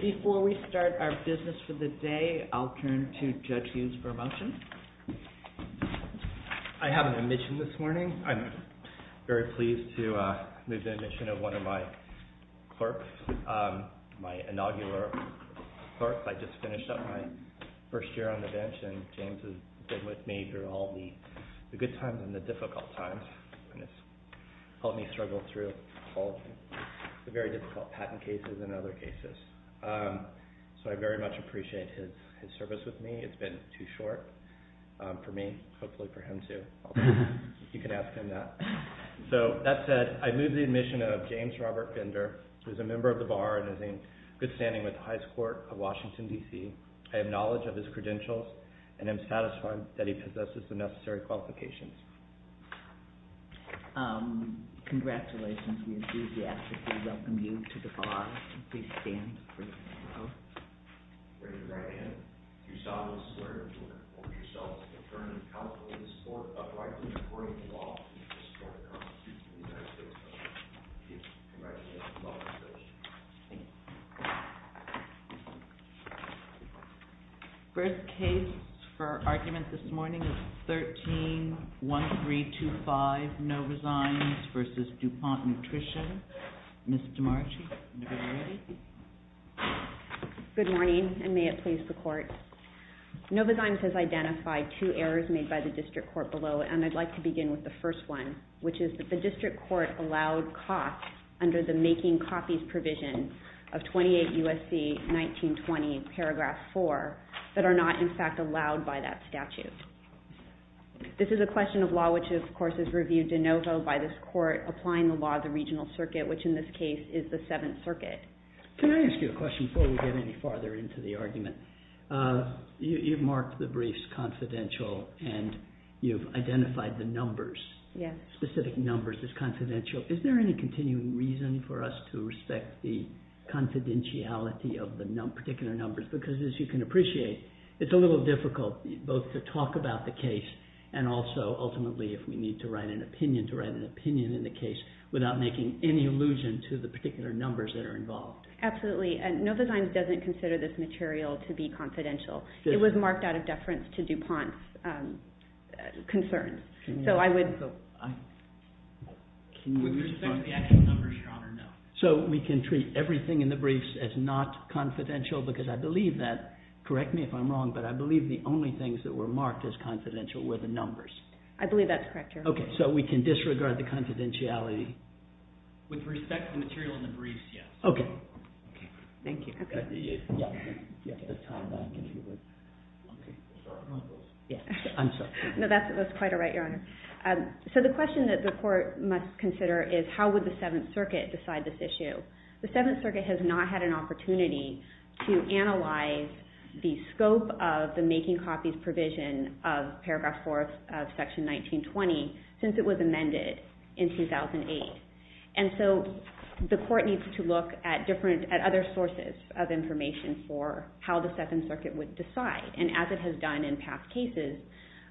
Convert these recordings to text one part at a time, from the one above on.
Before we start our business for the day, I'll turn to Judge Hughes for a motion. I have an admission this morning. I'm very pleased to move the admission of one of my clerks, my inaugural clerks. I just finished up my first year on the bench and James has been with me through all the good times and the difficult times. It's helped me struggle through all the very difficult patent cases and other cases. So I very much appreciate his service with me. It's been too short for me, hopefully for him too. You can ask him that. So that said, I move the admission of James Robert Bender, who is a member of the Bar and is in good standing with the High Court of Washington, D.C. I have knowledge of his credentials and am satisfied that he possesses the necessary qualifications. Congratulations. We enthusiastically welcome you to the Bar. Please stand. Raise your right hand if you saw this letter or yourself as an attorney of counsel in this court. Why do you support the law in this court and the Constitution of the United States of America? Thank you. Congratulations. Welcome to the session. Thank you. First case for argument this morning is 13-1325 Novozymes v. DuPont Nutrition. Ms. DeMarchi, are you ready? Good morning, and may it please the Court. Novozymes has identified two errors made by the District Court below, and I'd like to begin with the first one, which is that the District Court allowed costs under the Making Copies provision of 28 U.S.C. 1920, paragraph 4, that are not in fact allowed by that statute. This is a question of law which, of course, is reviewed in Novo by this Court applying the law of the Regional Circuit, which in this case is the Seventh Circuit. Can I ask you a question before we get any farther into the argument? You've marked the briefs confidential and you've identified the numbers, specific numbers as confidential. Is there any continuing reason for us to respect the confidentiality of the particular numbers? Because, as you can appreciate, it's a little difficult both to talk about the case and also, ultimately, if we need to write an opinion, to write an opinion in the case without making any allusion to the particular numbers that are involved. Absolutely, and Novozymes doesn't consider this material to be confidential. It was marked out of deference to DuPont's concerns. So I would... So we can treat everything in the briefs as not confidential because I believe that, correct me if I'm wrong, but I believe the only things that were marked as confidential were the numbers. I believe that's correct, Your Honor. Okay, so we can disregard the confidentiality? With respect to the material in the briefs, yes. Okay. Thank you. I'm sorry. No, that's quite all right, Your Honor. So the question that the Court must consider is how would the Seventh Circuit decide this issue? The Seventh Circuit has not had an opportunity to analyze the scope of the making copies provision of Paragraph 4 of Section 1920 since it was amended in 2008. And so the Court needs to look at other sources of information for how the Seventh Circuit would decide. And as it has done in past cases,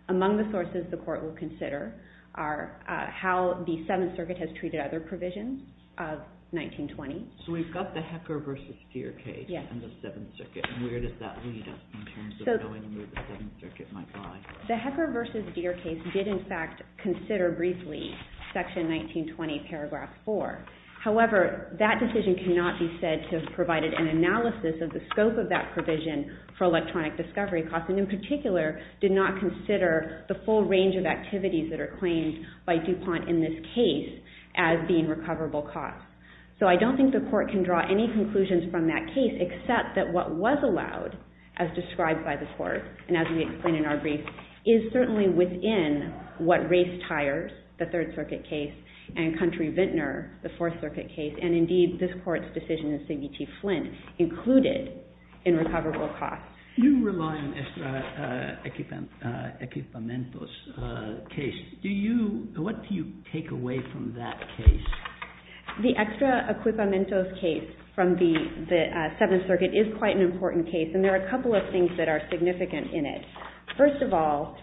among the sources the Court will consider are how the Seventh Circuit has treated other provisions of 1920. So we've got the Hecker v. Deer case and the Seventh Circuit. And where does that lead us in terms of knowing where the Seventh Circuit might lie? The Hecker v. Deer case did, in fact, consider briefly Section 1920, Paragraph 4. However, that decision cannot be said to have provided an analysis of the scope of that provision for electronic discovery costs and, in particular, did not consider the full range of activities that are claimed by DuPont in this case as being recoverable costs. So I don't think the Court can draw any conclusions from that case except that what was allowed, as described by the Court, and as we explain in our brief, is certainly within what Race Tires, the Third Circuit case, and Country Vintner, the Fourth Circuit case, and, indeed, this Court's decision in Signici Flint, included in recoverable costs. You rely on extra equipamentos case. Do you – what do you take away from that case? The extra equipamentos case from the Seventh Circuit is quite an important case, and there are a couple of things that are significant in it. First of all,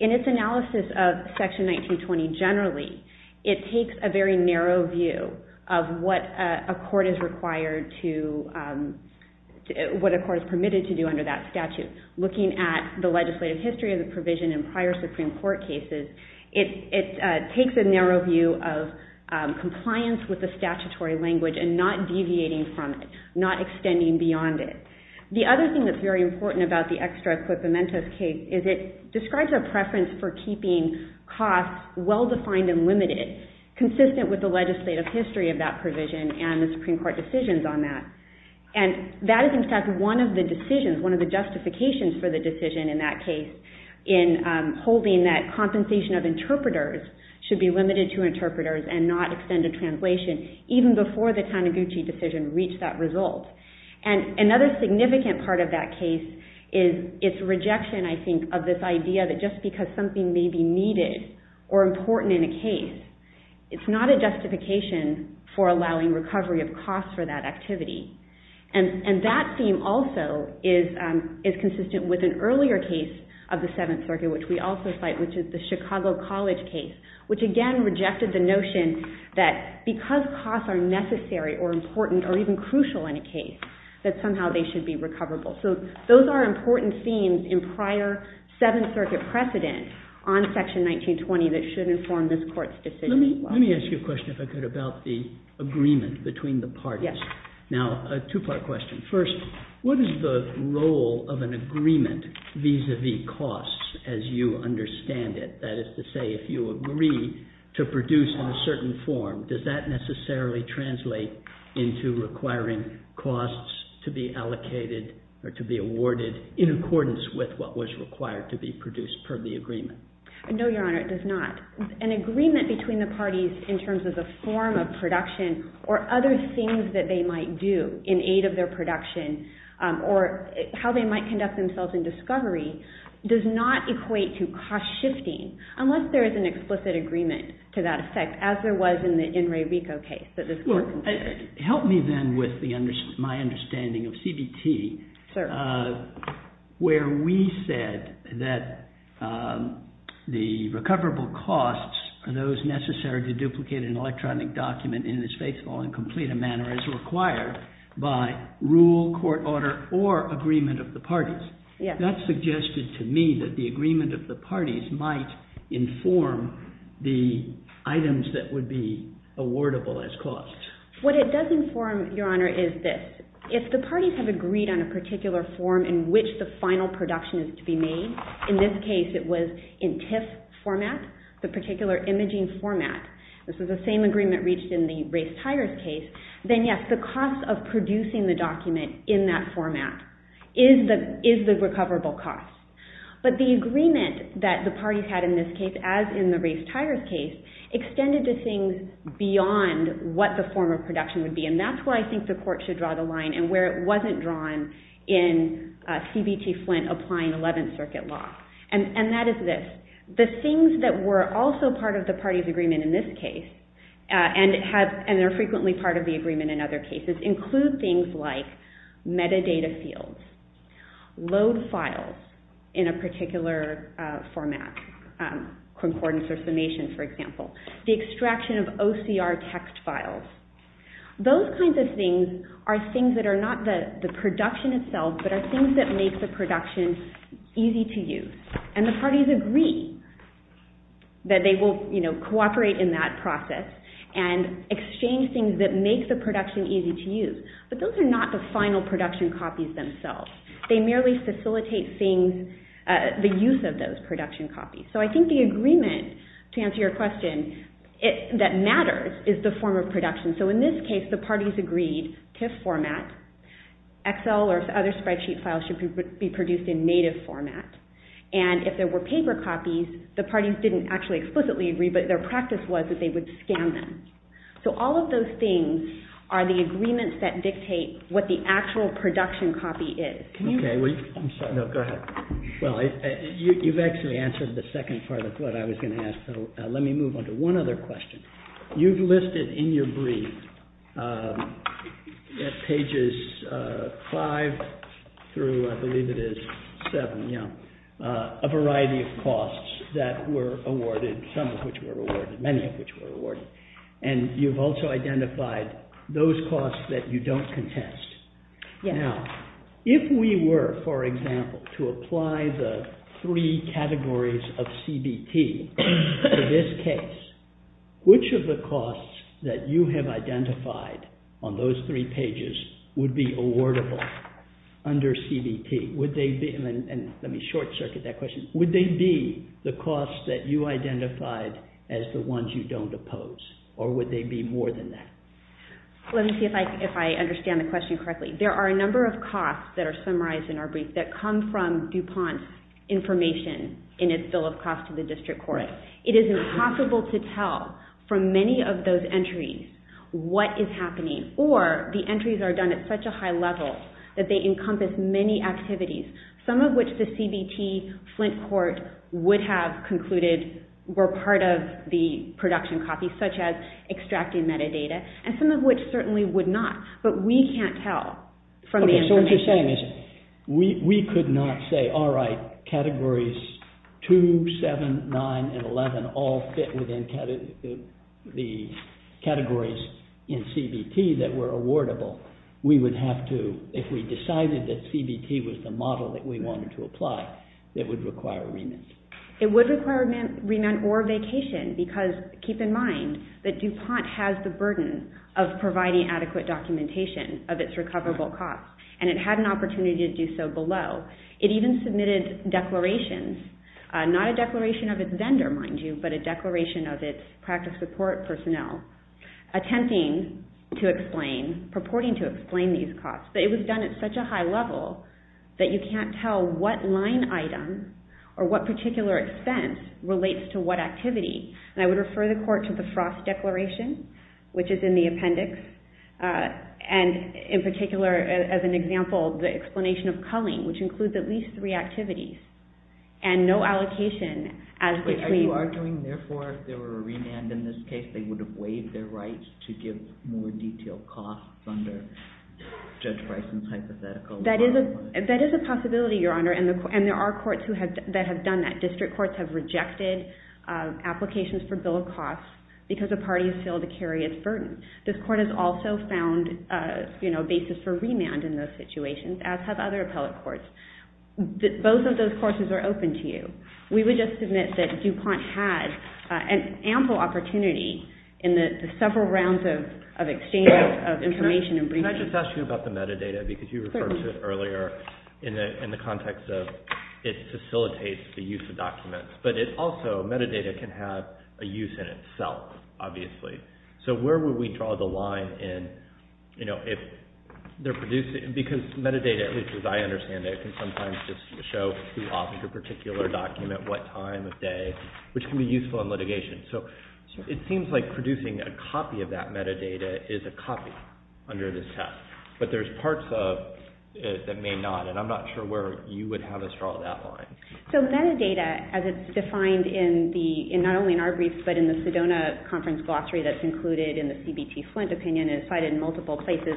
in its analysis of Section 1920 generally, it takes a very narrow view of what a court is required to – what a court is permitted to do under that statute. Looking at the legislative history of the provision in prior Supreme Court cases, it takes a narrow view of compliance with the statutory language and not deviating from it, not extending beyond it. The other thing that's very important about the extra equipamentos case is it describes a preference for keeping costs well-defined and limited, consistent with the legislative history of that provision and the Supreme Court decisions on that. And that is, in fact, one of the decisions, one of the justifications for the decision in that case, in holding that compensation of interpreters should be limited to interpreters and not extended translation, even before the Taniguchi decision reached that result. And another significant part of that case is its rejection, I think, of this idea that just because something may be needed or important in a case, it's not a justification for allowing recovery of costs for that activity. And that theme also is consistent with an earlier case of the Seventh Circuit, which we also cite, which is the Chicago College case, which, again, rejected the notion that because costs are necessary or important or even crucial in a case, that somehow they should be recoverable. So those are important themes in prior Seventh Circuit precedent on Section 1920 that should inform this Court's decision as well. Let me ask you a question, if I could, about the agreement between the parties. Yes. Now, a two-part question. First, what is the role of an agreement vis-à-vis costs as you understand it? That is to say, if you agree to produce in a certain form, does that necessarily translate into requiring costs to be allocated or to be awarded in accordance with what was required to be produced per the agreement? No, Your Honor, it does not. An agreement between the parties in terms of the form of production or other things that they might do in aid of their production or how they might conduct themselves in discovery does not equate to cost shifting, unless there is an explicit agreement to that effect, as there was in the Enri Rico case that this Court considered. Help me then with my understanding of CBT, where we said that the recoverable costs are those necessary to duplicate an electronic document in its faithful and complete a manner as required by rule, court order, or agreement of the parties. That suggested to me that the agreement of the parties might inform the items that would be awardable as costs. What it does inform, Your Honor, is this. If the parties have agreed on a particular form in which the final production is to be made, in this case it was in TIFF format, the particular imaging format. This was the same agreement reached in the race tires case. Then, yes, the cost of producing the document in that format is the recoverable cost. But the agreement that the parties had in this case, as in the race tires case, extended to things beyond what the form of production would be. And that's where I think the Court should draw the line and where it wasn't drawn in CBT-Flint applying Eleventh Circuit law. And that is this. The things that were also part of the parties' agreement in this case, and are frequently part of the agreement in other cases, include things like metadata fields, load files in a particular format, concordance or summation, for example, the extraction of OCR text files. Those kinds of things are things that are not the production itself, but are things that make the production easy to use. And the parties agree that they will cooperate in that process and exchange things that make the production easy to use. But those are not the final production copies themselves. They merely facilitate the use of those production copies. So I think the agreement, to answer your question, that matters is the form of production. So in this case, the parties agreed TIFF format, Excel or other spreadsheet files should be produced in native format. And if there were paper copies, the parties didn't actually explicitly agree, but their practice was that they would scan them. So all of those things are the agreements that dictate what the actual production copy is. Okay, I'm sorry. No, go ahead. Well, you've actually answered the second part of what I was going to ask. Let me move on to one other question. You've listed in your brief at pages 5 through, I believe it is 7, a variety of costs that were awarded, some of which were awarded, many of which were awarded. And you've also identified those costs that you don't contest. Now, if we were, for example, to apply the three categories of CBT to this case, which of the costs that you have identified on those three pages would be awardable under CBT? Would they be, and let me short circuit that question, would they be the costs that you identified as the ones you don't oppose? Or would they be more than that? Let me see if I understand the question correctly. There are a number of costs that are summarized in our brief that come from DuPont's information in its bill of costs to the district court. It is impossible to tell from many of those entries what is happening, or the entries are done at such a high level that they encompass many activities, some of which the CBT Flint court would have concluded were part of the production copies, such as extracting metadata, and some of which certainly would not. But we can't tell from the information. What I'm saying is we could not say, all right, categories 2, 7, 9, and 11 all fit within the categories in CBT that were awardable. We would have to, if we decided that CBT was the model that we wanted to apply, it would require a remit. It would require a remit or vacation, because keep in mind that DuPont has the burden of providing adequate documentation of its recoverable costs, and it had an opportunity to do so below. It even submitted declarations, not a declaration of its vendor, mind you, but a declaration of its practice support personnel, attempting to explain, purporting to explain these costs. But it was done at such a high level that you can't tell what line item or what particular expense relates to what activity. And I would refer the court to the Frost Declaration, which is in the appendix, and in particular, as an example, the explanation of culling, which includes at least three activities and no allocation as between— That is a possibility, Your Honor, and there are courts that have done that. District courts have rejected applications for bill of costs because a party has failed to carry its burden. This court has also found a basis for remand in those situations, as have other appellate courts. Both of those courses are open to you. We would just submit that DuPont had an ample opportunity in the several rounds of exchange of information and briefings. Can I just ask you about the metadata, because you referred to it earlier in the context of it facilitates the use of documents, but it also—metadata can have a use in itself, obviously. So where would we draw the line in, you know, if they're producing—because metadata, at least as I understand it, can sometimes just show who authored a particular document, what time of day, which can be useful in litigation. So it seems like producing a copy of that metadata is a copy under this test, but there's parts of it that may not, and I'm not sure where you would have us draw that line. So metadata, as it's defined in the—not only in our brief, but in the Sedona Conference Glossary that's included in the CBT Flint opinion and is cited in multiple places,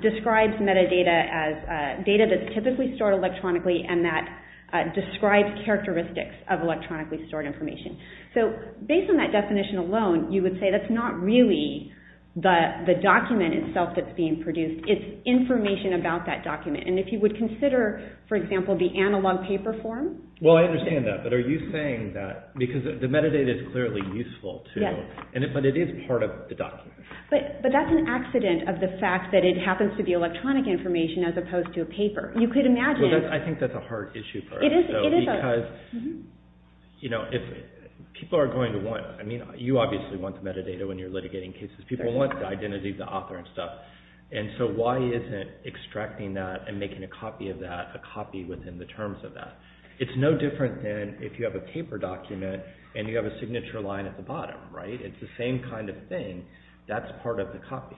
describes metadata as data that's typically stored electronically and that describes characteristics of electronically stored information. So based on that definition alone, you would say that's not really the document itself that's being produced. It's information about that document, and if you would consider, for example, the analog paper form— Well, I understand that, but are you saying that—because the metadata is clearly useful, too, but it is part of the document. But that's an accident of the fact that it happens to be electronic information as opposed to a paper. You could imagine— Well, I think that's a hard issue for us, because people are going to want—I mean, you obviously want the metadata when you're litigating cases. People want the identity of the author and stuff, and so why isn't extracting that and making a copy of that a copy within the terms of that? It's no different than if you have a paper document and you have a signature line at the bottom, right? It's the same kind of thing. That's part of the copy.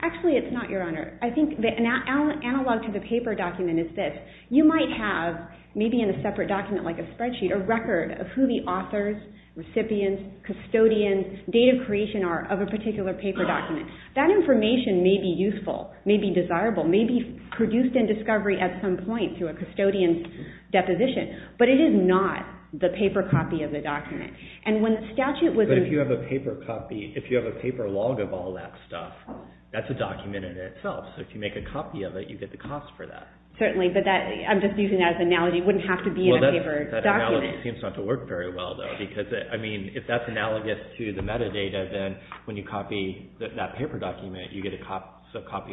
Actually, it's not, Your Honor. I think the analog to the paper document is this. You might have, maybe in a separate document like a spreadsheet, a record of who the authors, recipients, custodians, date of creation are of a particular paper document. That information may be useful, may be desirable, may be produced in discovery at some point through a custodian's deposition, but it is not the paper copy of the document. But if you have a paper copy, if you have a paper log of all that stuff, that's a document in itself, so if you make a copy of it, you get the cost for that. Certainly, but I'm just using that as an analogy. It wouldn't have to be in a paper document. That analogy seems not to work very well, though, because, I mean, if that's analogous to the metadata, then when you copy that paper document, you get a copy.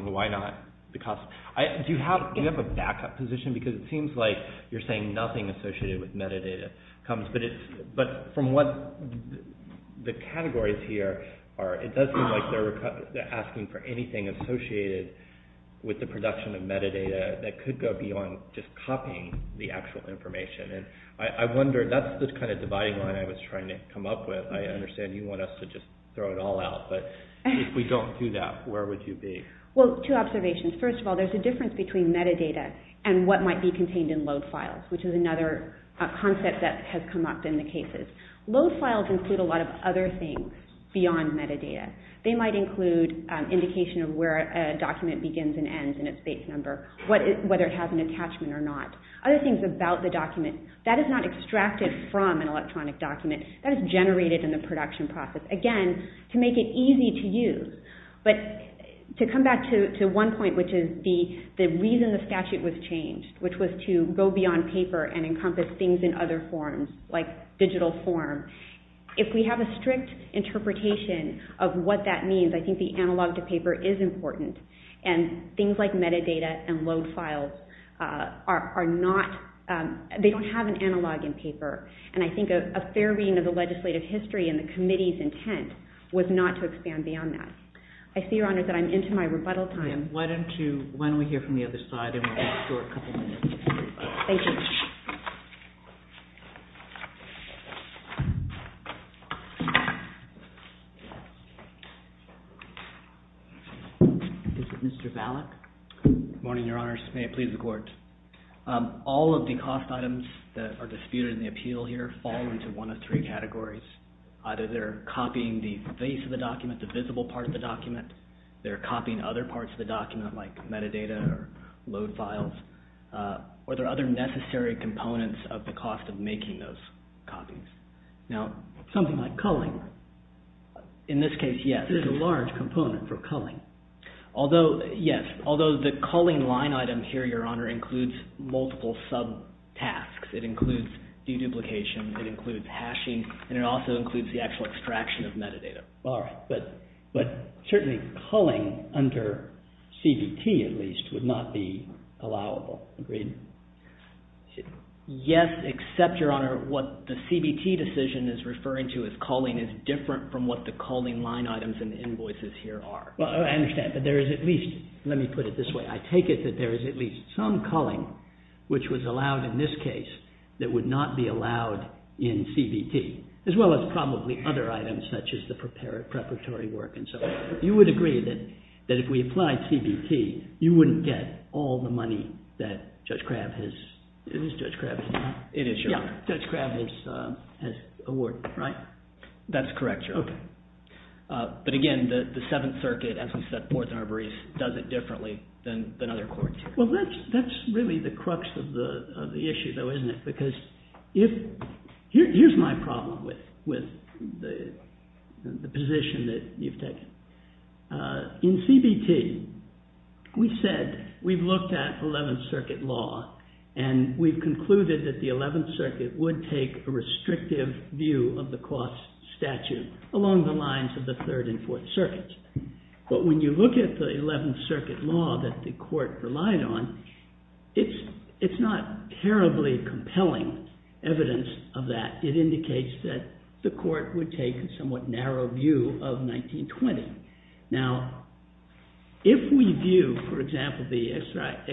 Why not? Do you have a backup position? Because it seems like you're saying nothing associated with metadata comes, but from what the categories here are, it does seem like they're asking for anything associated with the production of metadata that could go beyond just copying the actual information. And I wonder, that's the kind of dividing line I was trying to come up with. I understand you want us to just throw it all out, but if we don't do that, where would you be? Well, two observations. First of all, there's a difference between metadata and what might be contained in load files, which is another concept that has come up in the cases. Load files include a lot of other things beyond metadata. They might include indication of where a document begins and ends and its base number, whether it has an attachment or not. Other things about the document, that is not extracted from an electronic document. That is generated in the production process, again, to make it easy to use. But to come back to one point, which is the reason the statute was changed, which was to go beyond paper and encompass things in other forms, like digital form. If we have a strict interpretation of what that means, I think the analog to paper is important. And things like metadata and load files, they don't have an analog in paper. And I think a fair reading of the legislative history and the committee's intent was not to expand beyond that. I see, Your Honor, that I'm into my rebuttal time. Why don't we hear from the other side, and we'll go for a couple minutes. Thank you. Is it Mr. Valak? May it please the Court. All of the cost items that are disputed in the appeal here fall into one of three categories. Either they're copying the face of the document, the visible part of the document. They're copying other parts of the document, like metadata or load files. Or there are other necessary components of the cost of making those copies. Now, something like culling, in this case, yes, is a large component for culling. Although, yes, although the culling line item here, Your Honor, includes multiple sub-tasks. It includes deduplication. It includes hashing. And it also includes the actual extraction of metadata. All right. But certainly culling under CBT, at least, would not be allowable. Agreed? Yes, except, Your Honor, what the CBT decision is referring to as culling is different from what the culling line items and invoices here are. Well, I understand. But there is at least, let me put it this way. I take it that there is at least some culling, which was allowed in this case, that would not be allowed in CBT. As well as probably other items, such as the preparatory work and so forth. You would agree that if we applied CBT, you wouldn't get all the money that Judge Crabb has, is it Judge Crabb? It is, Your Honor. Yeah, Judge Crabb has awarded, right? That's correct, Your Honor. Okay. But again, the Seventh Circuit, as we said, Ports and Arborets, does it differently than other courts. Well, that's really the crux of the issue, though, isn't it? Because here's my problem with the position that you've taken. In CBT, we said, we've looked at Eleventh Circuit law, and we've concluded that the Eleventh Circuit would take a restrictive view of the cost statute along the lines of the Third and Fourth Circuits. But when you look at the Eleventh Circuit law that the court relied on, it's not terribly compelling evidence of that. It indicates that the court would take a somewhat narrow view of 1920. Now, if we view, for example, the Estrada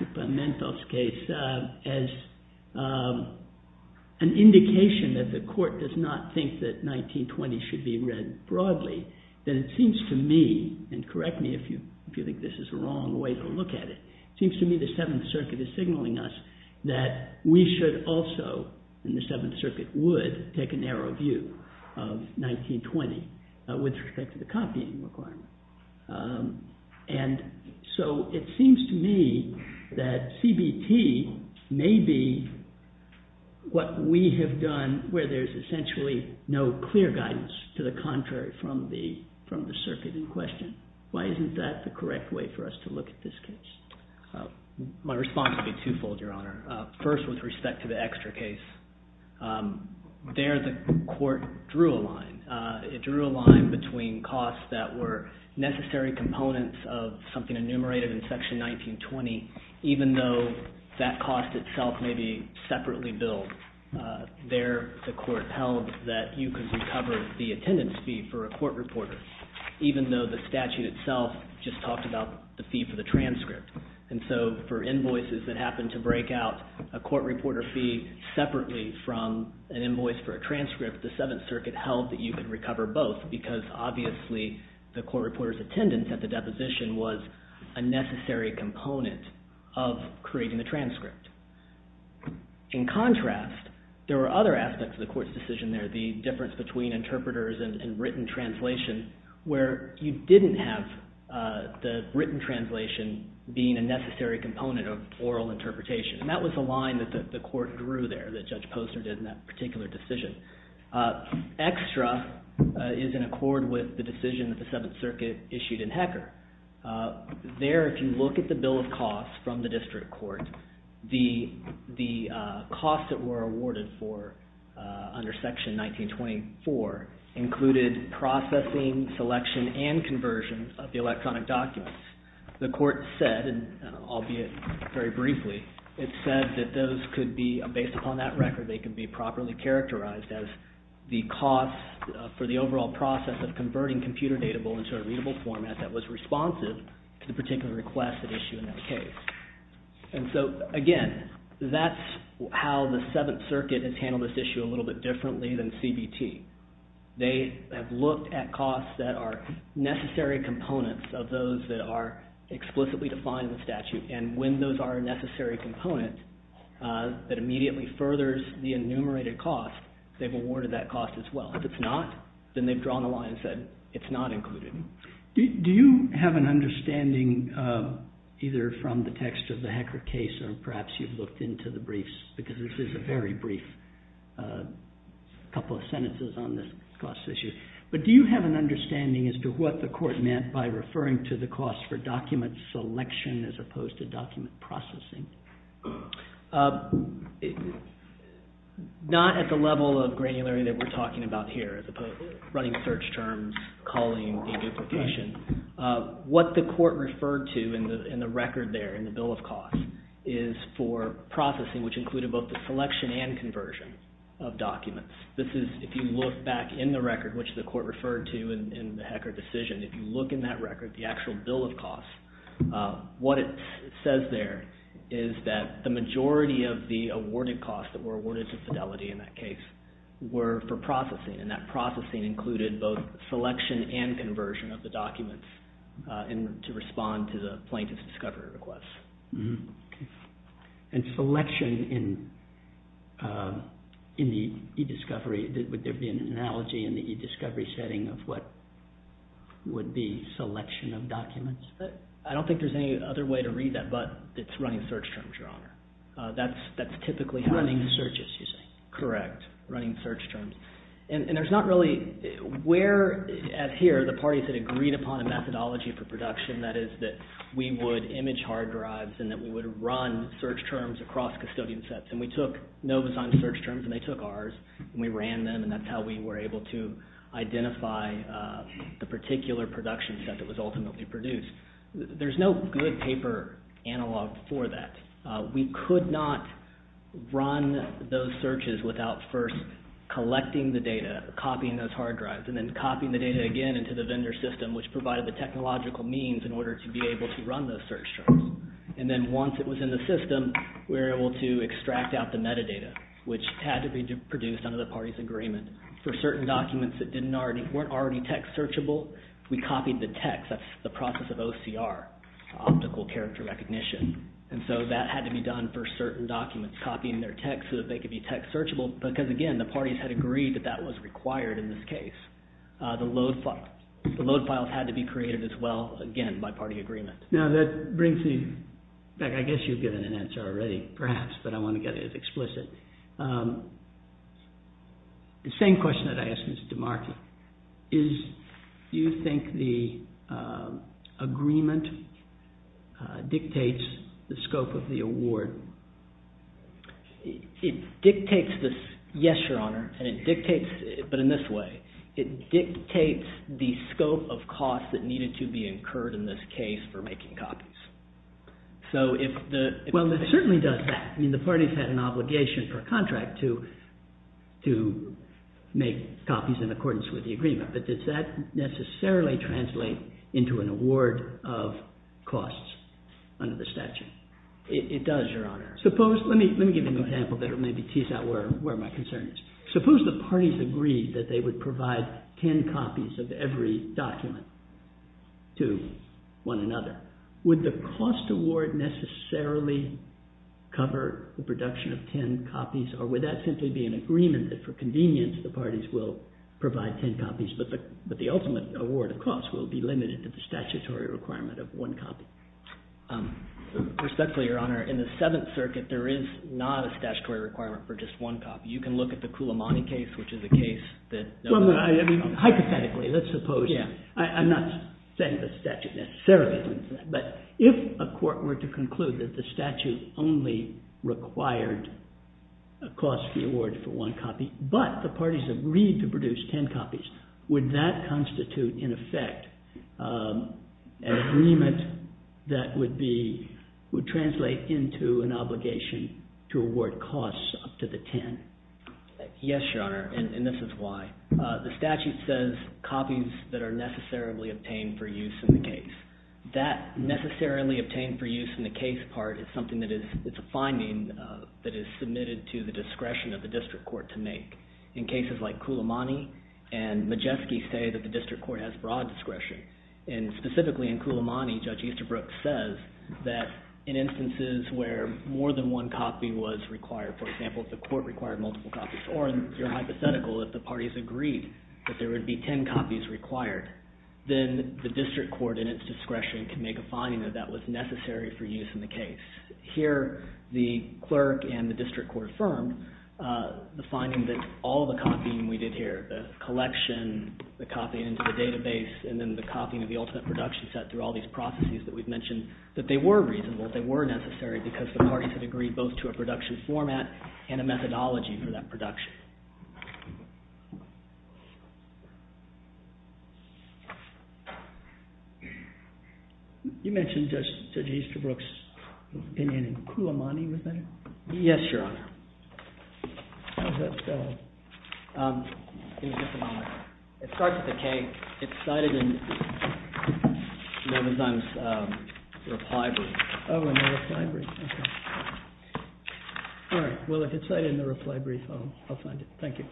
Equipamentos case as an indication that the court does not think that 1920 should be read broadly, then it seems to me, and correct me if you think this is the wrong way to look at it, it seems to me the Seventh Circuit is signaling us that we should also, and the Seventh Circuit would, take a narrow view of 1920 with respect to the copying requirement. And so it seems to me that CBT may be what we have done where there's essentially no clear guidance to the contrary from the circuit in question. Why isn't that the correct way for us to look at this case? My response would be twofold, Your Honor. First, with respect to the Extra case, there the court drew a line. It drew a line between costs that were necessary components of something enumerated in Section 1920, even though that cost itself may be separately billed. There, the court held that you could recover the attendance fee for a court reporter, even though the statute itself just talked about the fee for the transcript. And so for invoices that happened to break out a court reporter fee separately from an invoice for a transcript, the Seventh Circuit held that you could recover both because obviously the court reporter's attendance at the deposition was a necessary component of creating the transcript. In contrast, there were other aspects of the court's decision there, the difference between interpreters and written translation, where you didn't have the written translation being a necessary component of oral interpretation. And that was the line that the court drew there, that Judge Poster did in that particular decision. Extra is in accord with the decision that the Seventh Circuit issued in Hecker. There, if you look at the bill of costs from the district court, the costs that were awarded for under Section 1924 included processing, selection, and conversion of the electronic documents. The court said, albeit very briefly, it said that those could be, based upon that record, they could be properly characterized as the cost for the overall process of converting computer data into a readable format that was responsive to the particular request at issue in that case. And so, again, that's how the Seventh Circuit has handled this issue a little bit differently than CBT. They have looked at costs that are necessary components of those that are explicitly defined in the statute, and when those are a necessary component that immediately furthers the enumerated cost, they've awarded that cost as well. If it's not, then they've drawn the line and said, it's not included. Do you have an understanding, either from the text of the Hecker case or perhaps you've looked into the briefs, because this is a very brief couple of sentences on this cost issue, but do you have an understanding as to what the court meant by referring to the cost for document selection as opposed to document processing? Not at the level of granularity that we're talking about here, as opposed to running search terms, calling, and duplication. What the court referred to in the record there, in the bill of costs, is for processing, which included both the selection and conversion of documents. This is, if you look back in the record, which the court referred to in the Hecker decision, if you look in that record, the actual bill of costs, what it says there is that the majority of the awarded costs that were awarded to Fidelity in that case were for processing, and that processing included both selection and conversion of the documents to respond to the plaintiff's discovery request. And selection in the e-discovery, would there be an analogy in the e-discovery setting of what would be selection of documents? I don't think there's any other way to read that but it's running search terms, Your Honor. That's typically how it is. Running searches, you say. Correct. Running search terms. And there's not really, where at here, the parties had agreed upon a methodology for production, that is that we would image hard drives and that we would run search terms across custodian sets. And we took NovoSign's search terms and they took ours, and we ran them, and that's how we were able to identify the particular production set that was ultimately produced. There's no good paper analog for that. We could not run those searches without first collecting the data, copying those hard drives, and then copying the data again into the vendor system, which provided the technological means in order to be able to run those search terms. And then once it was in the system, we were able to extract out the metadata, which had to be produced under the parties' agreement. For certain documents that weren't already text searchable, we copied the text. That's the process of OCR, optical character recognition. And so that had to be done for certain documents, copying their text so that they could be text searchable, because, again, the parties had agreed that that was required in this case. The load files had to be created as well, again, by party agreement. Now that brings me back. I guess you've given an answer already, perhaps, but I want to get it as explicit. The same question that I asked Mr. DeMarti. Do you think the agreement dictates the scope of the award? Yes, Your Honor, but in this way. It dictates the scope of costs that needed to be incurred in this case for making copies. Well, it certainly does that. I mean, the parties had an obligation per contract to make copies in accordance with the agreement, but does that necessarily translate into an award of costs under the statute? It does, Your Honor. Let me give you an example that will maybe tease out where my concern is. Suppose the parties agreed that they would provide ten copies of every document to one another. Would the cost award necessarily cover the production of ten copies, or would that simply be an agreement that, for convenience, the parties will provide ten copies, but the ultimate award of costs will be limited to the statutory requirement of one copy? Respectfully, Your Honor, in the Seventh Circuit, there is not a statutory requirement for just one copy. You can look at the Cullimani case, which is a case that— Hypothetically, let's suppose. I'm not saying the statute necessarily does that, but if a court were to conclude that the statute only required a cost reward for one copy, but the parties agreed to produce ten copies, would that constitute, in effect, an agreement that would translate into an obligation to award costs up to the ten? Yes, Your Honor, and this is why. The statute says copies that are necessarily obtained for use in the case. That necessarily obtained for use in the case part is something that is— it's a finding that is submitted to the discretion of the district court to make. In cases like Cullimani and Majeski say that the district court has broad discretion, and specifically in Cullimani, Judge Easterbrook says that in instances where more than one copy was required, for example, if the court required multiple copies, or in your hypothetical, if the parties agreed that there would be ten copies required, then the district court, in its discretion, can make a finding that that was necessary for use in the case. Here, the clerk and the district court affirmed the finding that all the copying we did here, the collection, the copying into the database, and then the copying of the ultimate production set through all these processes that we've mentioned, that they were reasonable, they were necessary, because the parties had agreed both to a production format and a methodology for that production. You mentioned Judge Easterbrook's opinion in Cullimani, was that it? Yes, Your Honor. How does that spell? It starts with a K. It's cited in Melvin's reply brief. Oh, in the reply brief. All right, well, if it's cited in the reply brief, I'll find it. Thank you.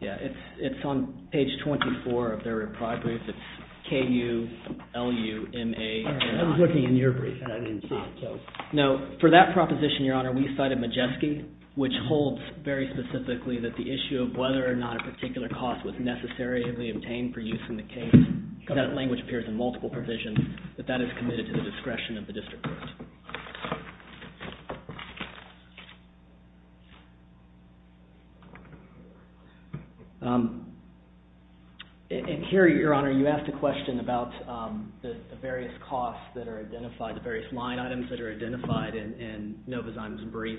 Yeah, it's on page 24 of their reply brief. It's K-U-L-U-M-A-N-I. I was looking in your brief, and I didn't see it. No, for that proposition, Your Honor, we cited Majeski, which holds very specifically that the issue of whether or not a particular cost was necessarily obtained for use in the case, that language appears in multiple provisions, that that is committed to the discretion of the district court. And here, Your Honor, you asked a question about the various costs that are identified, the various line items that are identified in Novozyman's brief.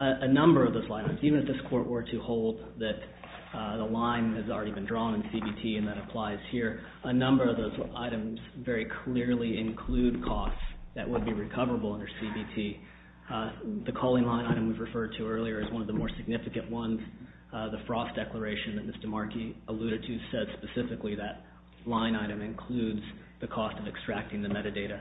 A number of those line items, even if this court were to hold that the line has already been drawn in CBT and that applies here, a number of those items very clearly include costs that would be recoverable under CBT. The calling line item we referred to earlier is one of the more significant ones. The Frost Declaration that Mr. Markey alluded to said specifically that line item includes the cost of extracting the metadata.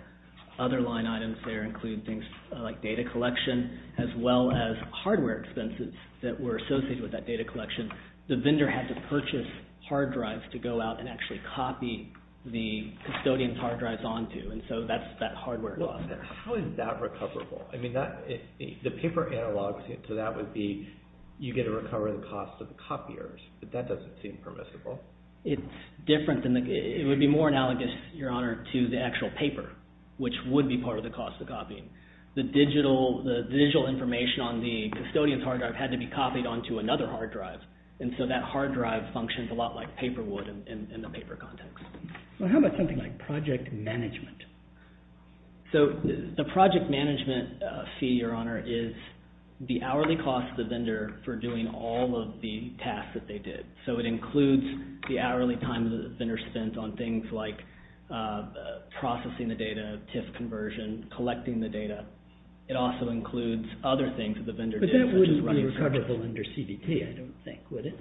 Other line items there include things like data collection, as well as hardware expenses that were associated with that data collection. The vendor had to purchase hard drives to go out and actually copy the custodian's hard drives onto, and so that's that hardware cost there. How is that recoverable? I mean, the paper analog to that would be you get to recover the cost of the copiers, but that doesn't seem permissible. It's different. It would be more analogous, Your Honor, to the actual paper, which would be part of the cost of copying. The digital information on the custodian's hard drive had to be copied onto another hard drive, and so that hard drive functions a lot like paper would in the paper context. Well, how about something like project management? So the project management fee, Your Honor, is the hourly cost of the vendor for doing all of the tasks that they did. So it includes the hourly time that the vendor spent on things like processing the data, TIF conversion, collecting the data. It also includes other things that the vendor did. But that wouldn't be recoverable under CBT, I don't think, would it?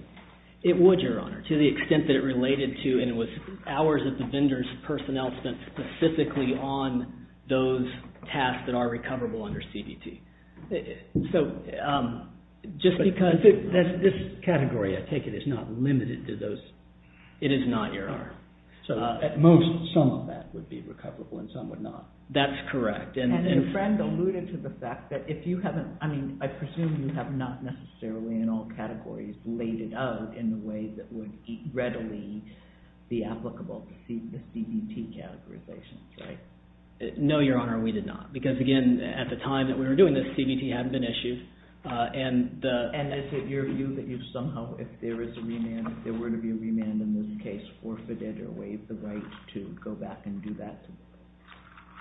It would, Your Honor, to the extent that it related to, and it was hours that the vendor's personnel spent specifically on those tasks that are recoverable under CBT. So just because— This category, I take it, is not limited to those— It is not, Your Honor. At most, some of that would be recoverable and some would not. That's correct. And Fred alluded to the fact that if you haven't—I mean, I presume you have not necessarily in all categories laid it out in a way that would readily be applicable to CBT categorizations, right? No, Your Honor, we did not. Because, again, at the time that we were doing this, CBT hadn't been issued. And is it your view that you've somehow, if there is a remand, if there were to be a remand in this case, forfeited or waived the right to go back and do that?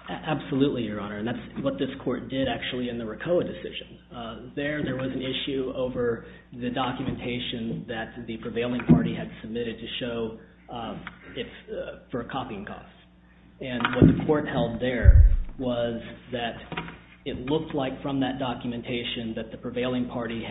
Absolutely, Your Honor. And that's what this Court did, actually, in the RICOA decision. There, there was an issue over the documentation that the prevailing party had submitted to show for copying costs. And what the Court held there was that it looked like from that documentation that the prevailing party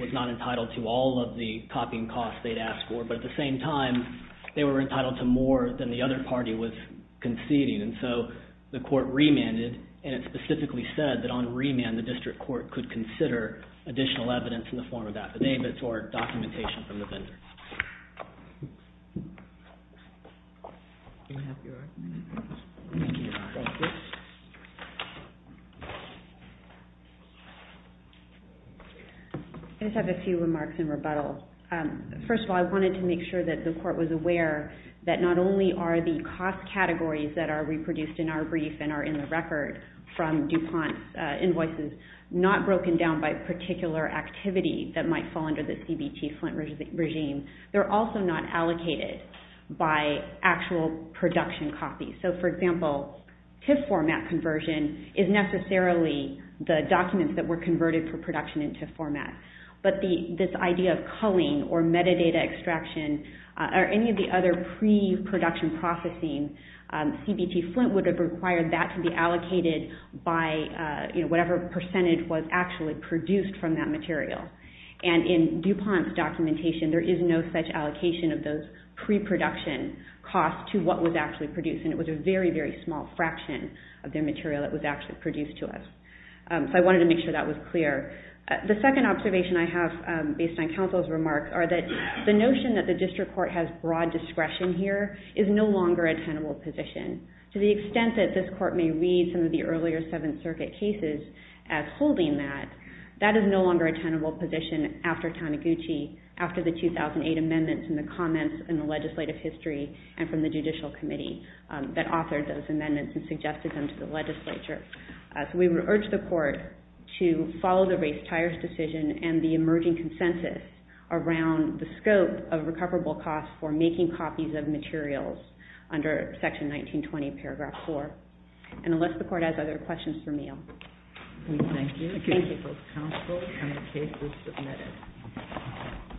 was not entitled to all of the copying costs they'd asked for. But at the same time, they were entitled to more than the other party was conceding. And so the Court remanded, and it specifically said that on remand the district court could consider additional evidence in the form of affidavits or documentation from the vendor. I just have a few remarks in rebuttal. First of all, I wanted to make sure that the Court was aware that not only are the cost categories that are reproduced in our brief and are in the record from DuPont's invoices not broken down by particular activity that might fall under the CBT Flint regime. They're also not allocated by actual production copies. So, for example, TIF format conversion is necessarily the documents that were converted for production into format. But this idea of culling or metadata extraction or any of the other pre-production processing, CBT Flint would have required that to be allocated by whatever percentage was actually produced from that material. And in DuPont's documentation, there is no such allocation of those pre-production costs to what was actually produced. And it was a very, very small fraction of their material that was actually produced to us. So I wanted to make sure that was clear. The second observation I have, based on counsel's remarks, are that the notion that the District Court has broad discretion here is no longer a tenable position. To the extent that this Court may read some of the earlier Seventh Circuit cases as holding that, that is no longer a tenable position after Taniguchi, after the 2008 amendments and the comments in the legislative history and from the Judicial Committee that authored those amendments and suggested them to the legislature. So we would urge the Court to follow the race tires decision and the emerging consensus around the scope of recoverable costs for making copies of materials under Section 1920, Paragraph 4. And unless the Court has other questions for me, I'll move on. Thank you. Thank you. Both counsel and the case is submitted.